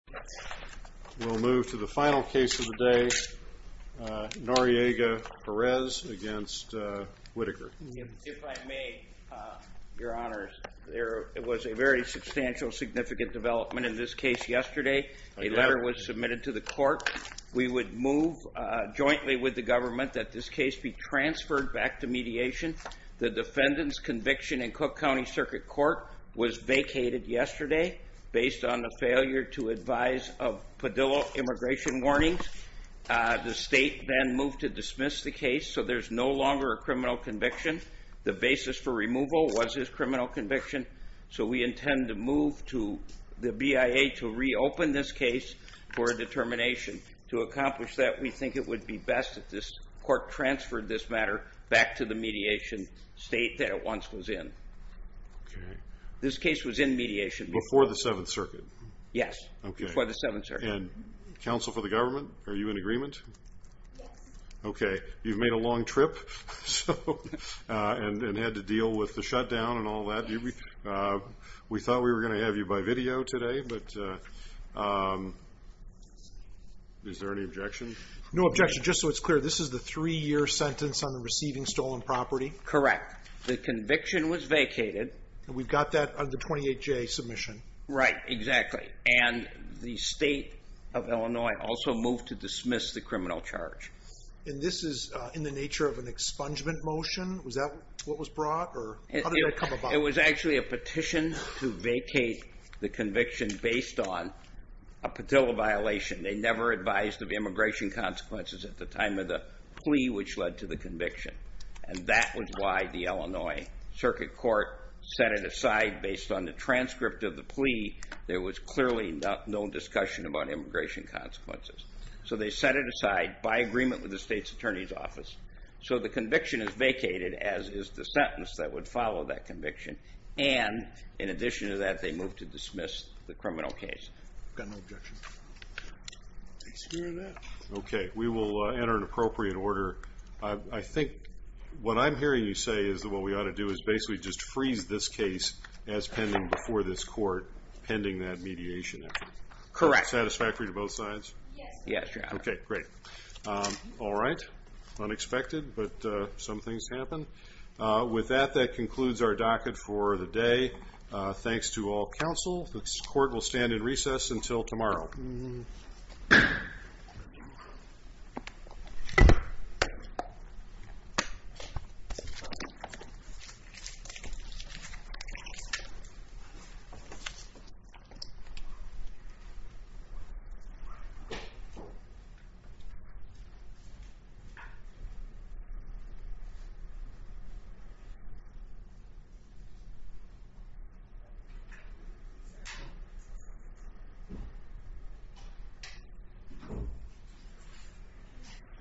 We'll move to the final case of the day, Noriega-Perez v. Whitaker. If I may, Your Honor, there was a very substantial, significant development in this case yesterday. A letter was submitted to the court. We would move jointly with the government that this case be transferred back to mediation. The defendant's conviction in Cook County Circuit Court was vacated yesterday based on the failure to advise of Padilla immigration warnings. The state then moved to dismiss the case, so there's no longer a criminal conviction. The basis for removal was his criminal conviction, so we intend to move to the BIA to reopen this case for a determination. To accomplish that, we think it would be best if this court transferred this matter back to the mediation state that it once was in. This case was in mediation. Before the Seventh Circuit? Yes, before the Seventh Circuit. And counsel for the government, are you in agreement? Yes. Okay, you've made a long trip and had to deal with the shutdown and all that. We thought we were going to have you by video today, but is there any objection? No objection. Just so it's clear, this is the three-year sentence on the receiving stolen property? Correct. The conviction was vacated. And we've got that under 28J submission. Right, exactly. And the state of Illinois also moved to dismiss the criminal charge. And this is in the nature of an expungement motion? Was that what was brought? It was actually a petition to vacate the conviction based on a patel violation. They never advised of immigration consequences at the time of the plea, which led to the conviction. And that was why the Illinois Circuit Court set it aside based on the transcript of the plea. There was clearly no discussion about immigration consequences. So the conviction is vacated, as is the sentence that would follow that conviction. And in addition to that, they moved to dismiss the criminal case. Got no objection. Okay, we will enter an appropriate order. I think what I'm hearing you say is that what we ought to do is basically just freeze this case as pending before this court, pending that mediation effort. Correct. Satisfactory to both sides? Yes. Okay, great. All right. Unexpected, but some things happen. With that, that concludes our docket for the day. Thanks to all counsel. This court will stand in recess until tomorrow. Thank you.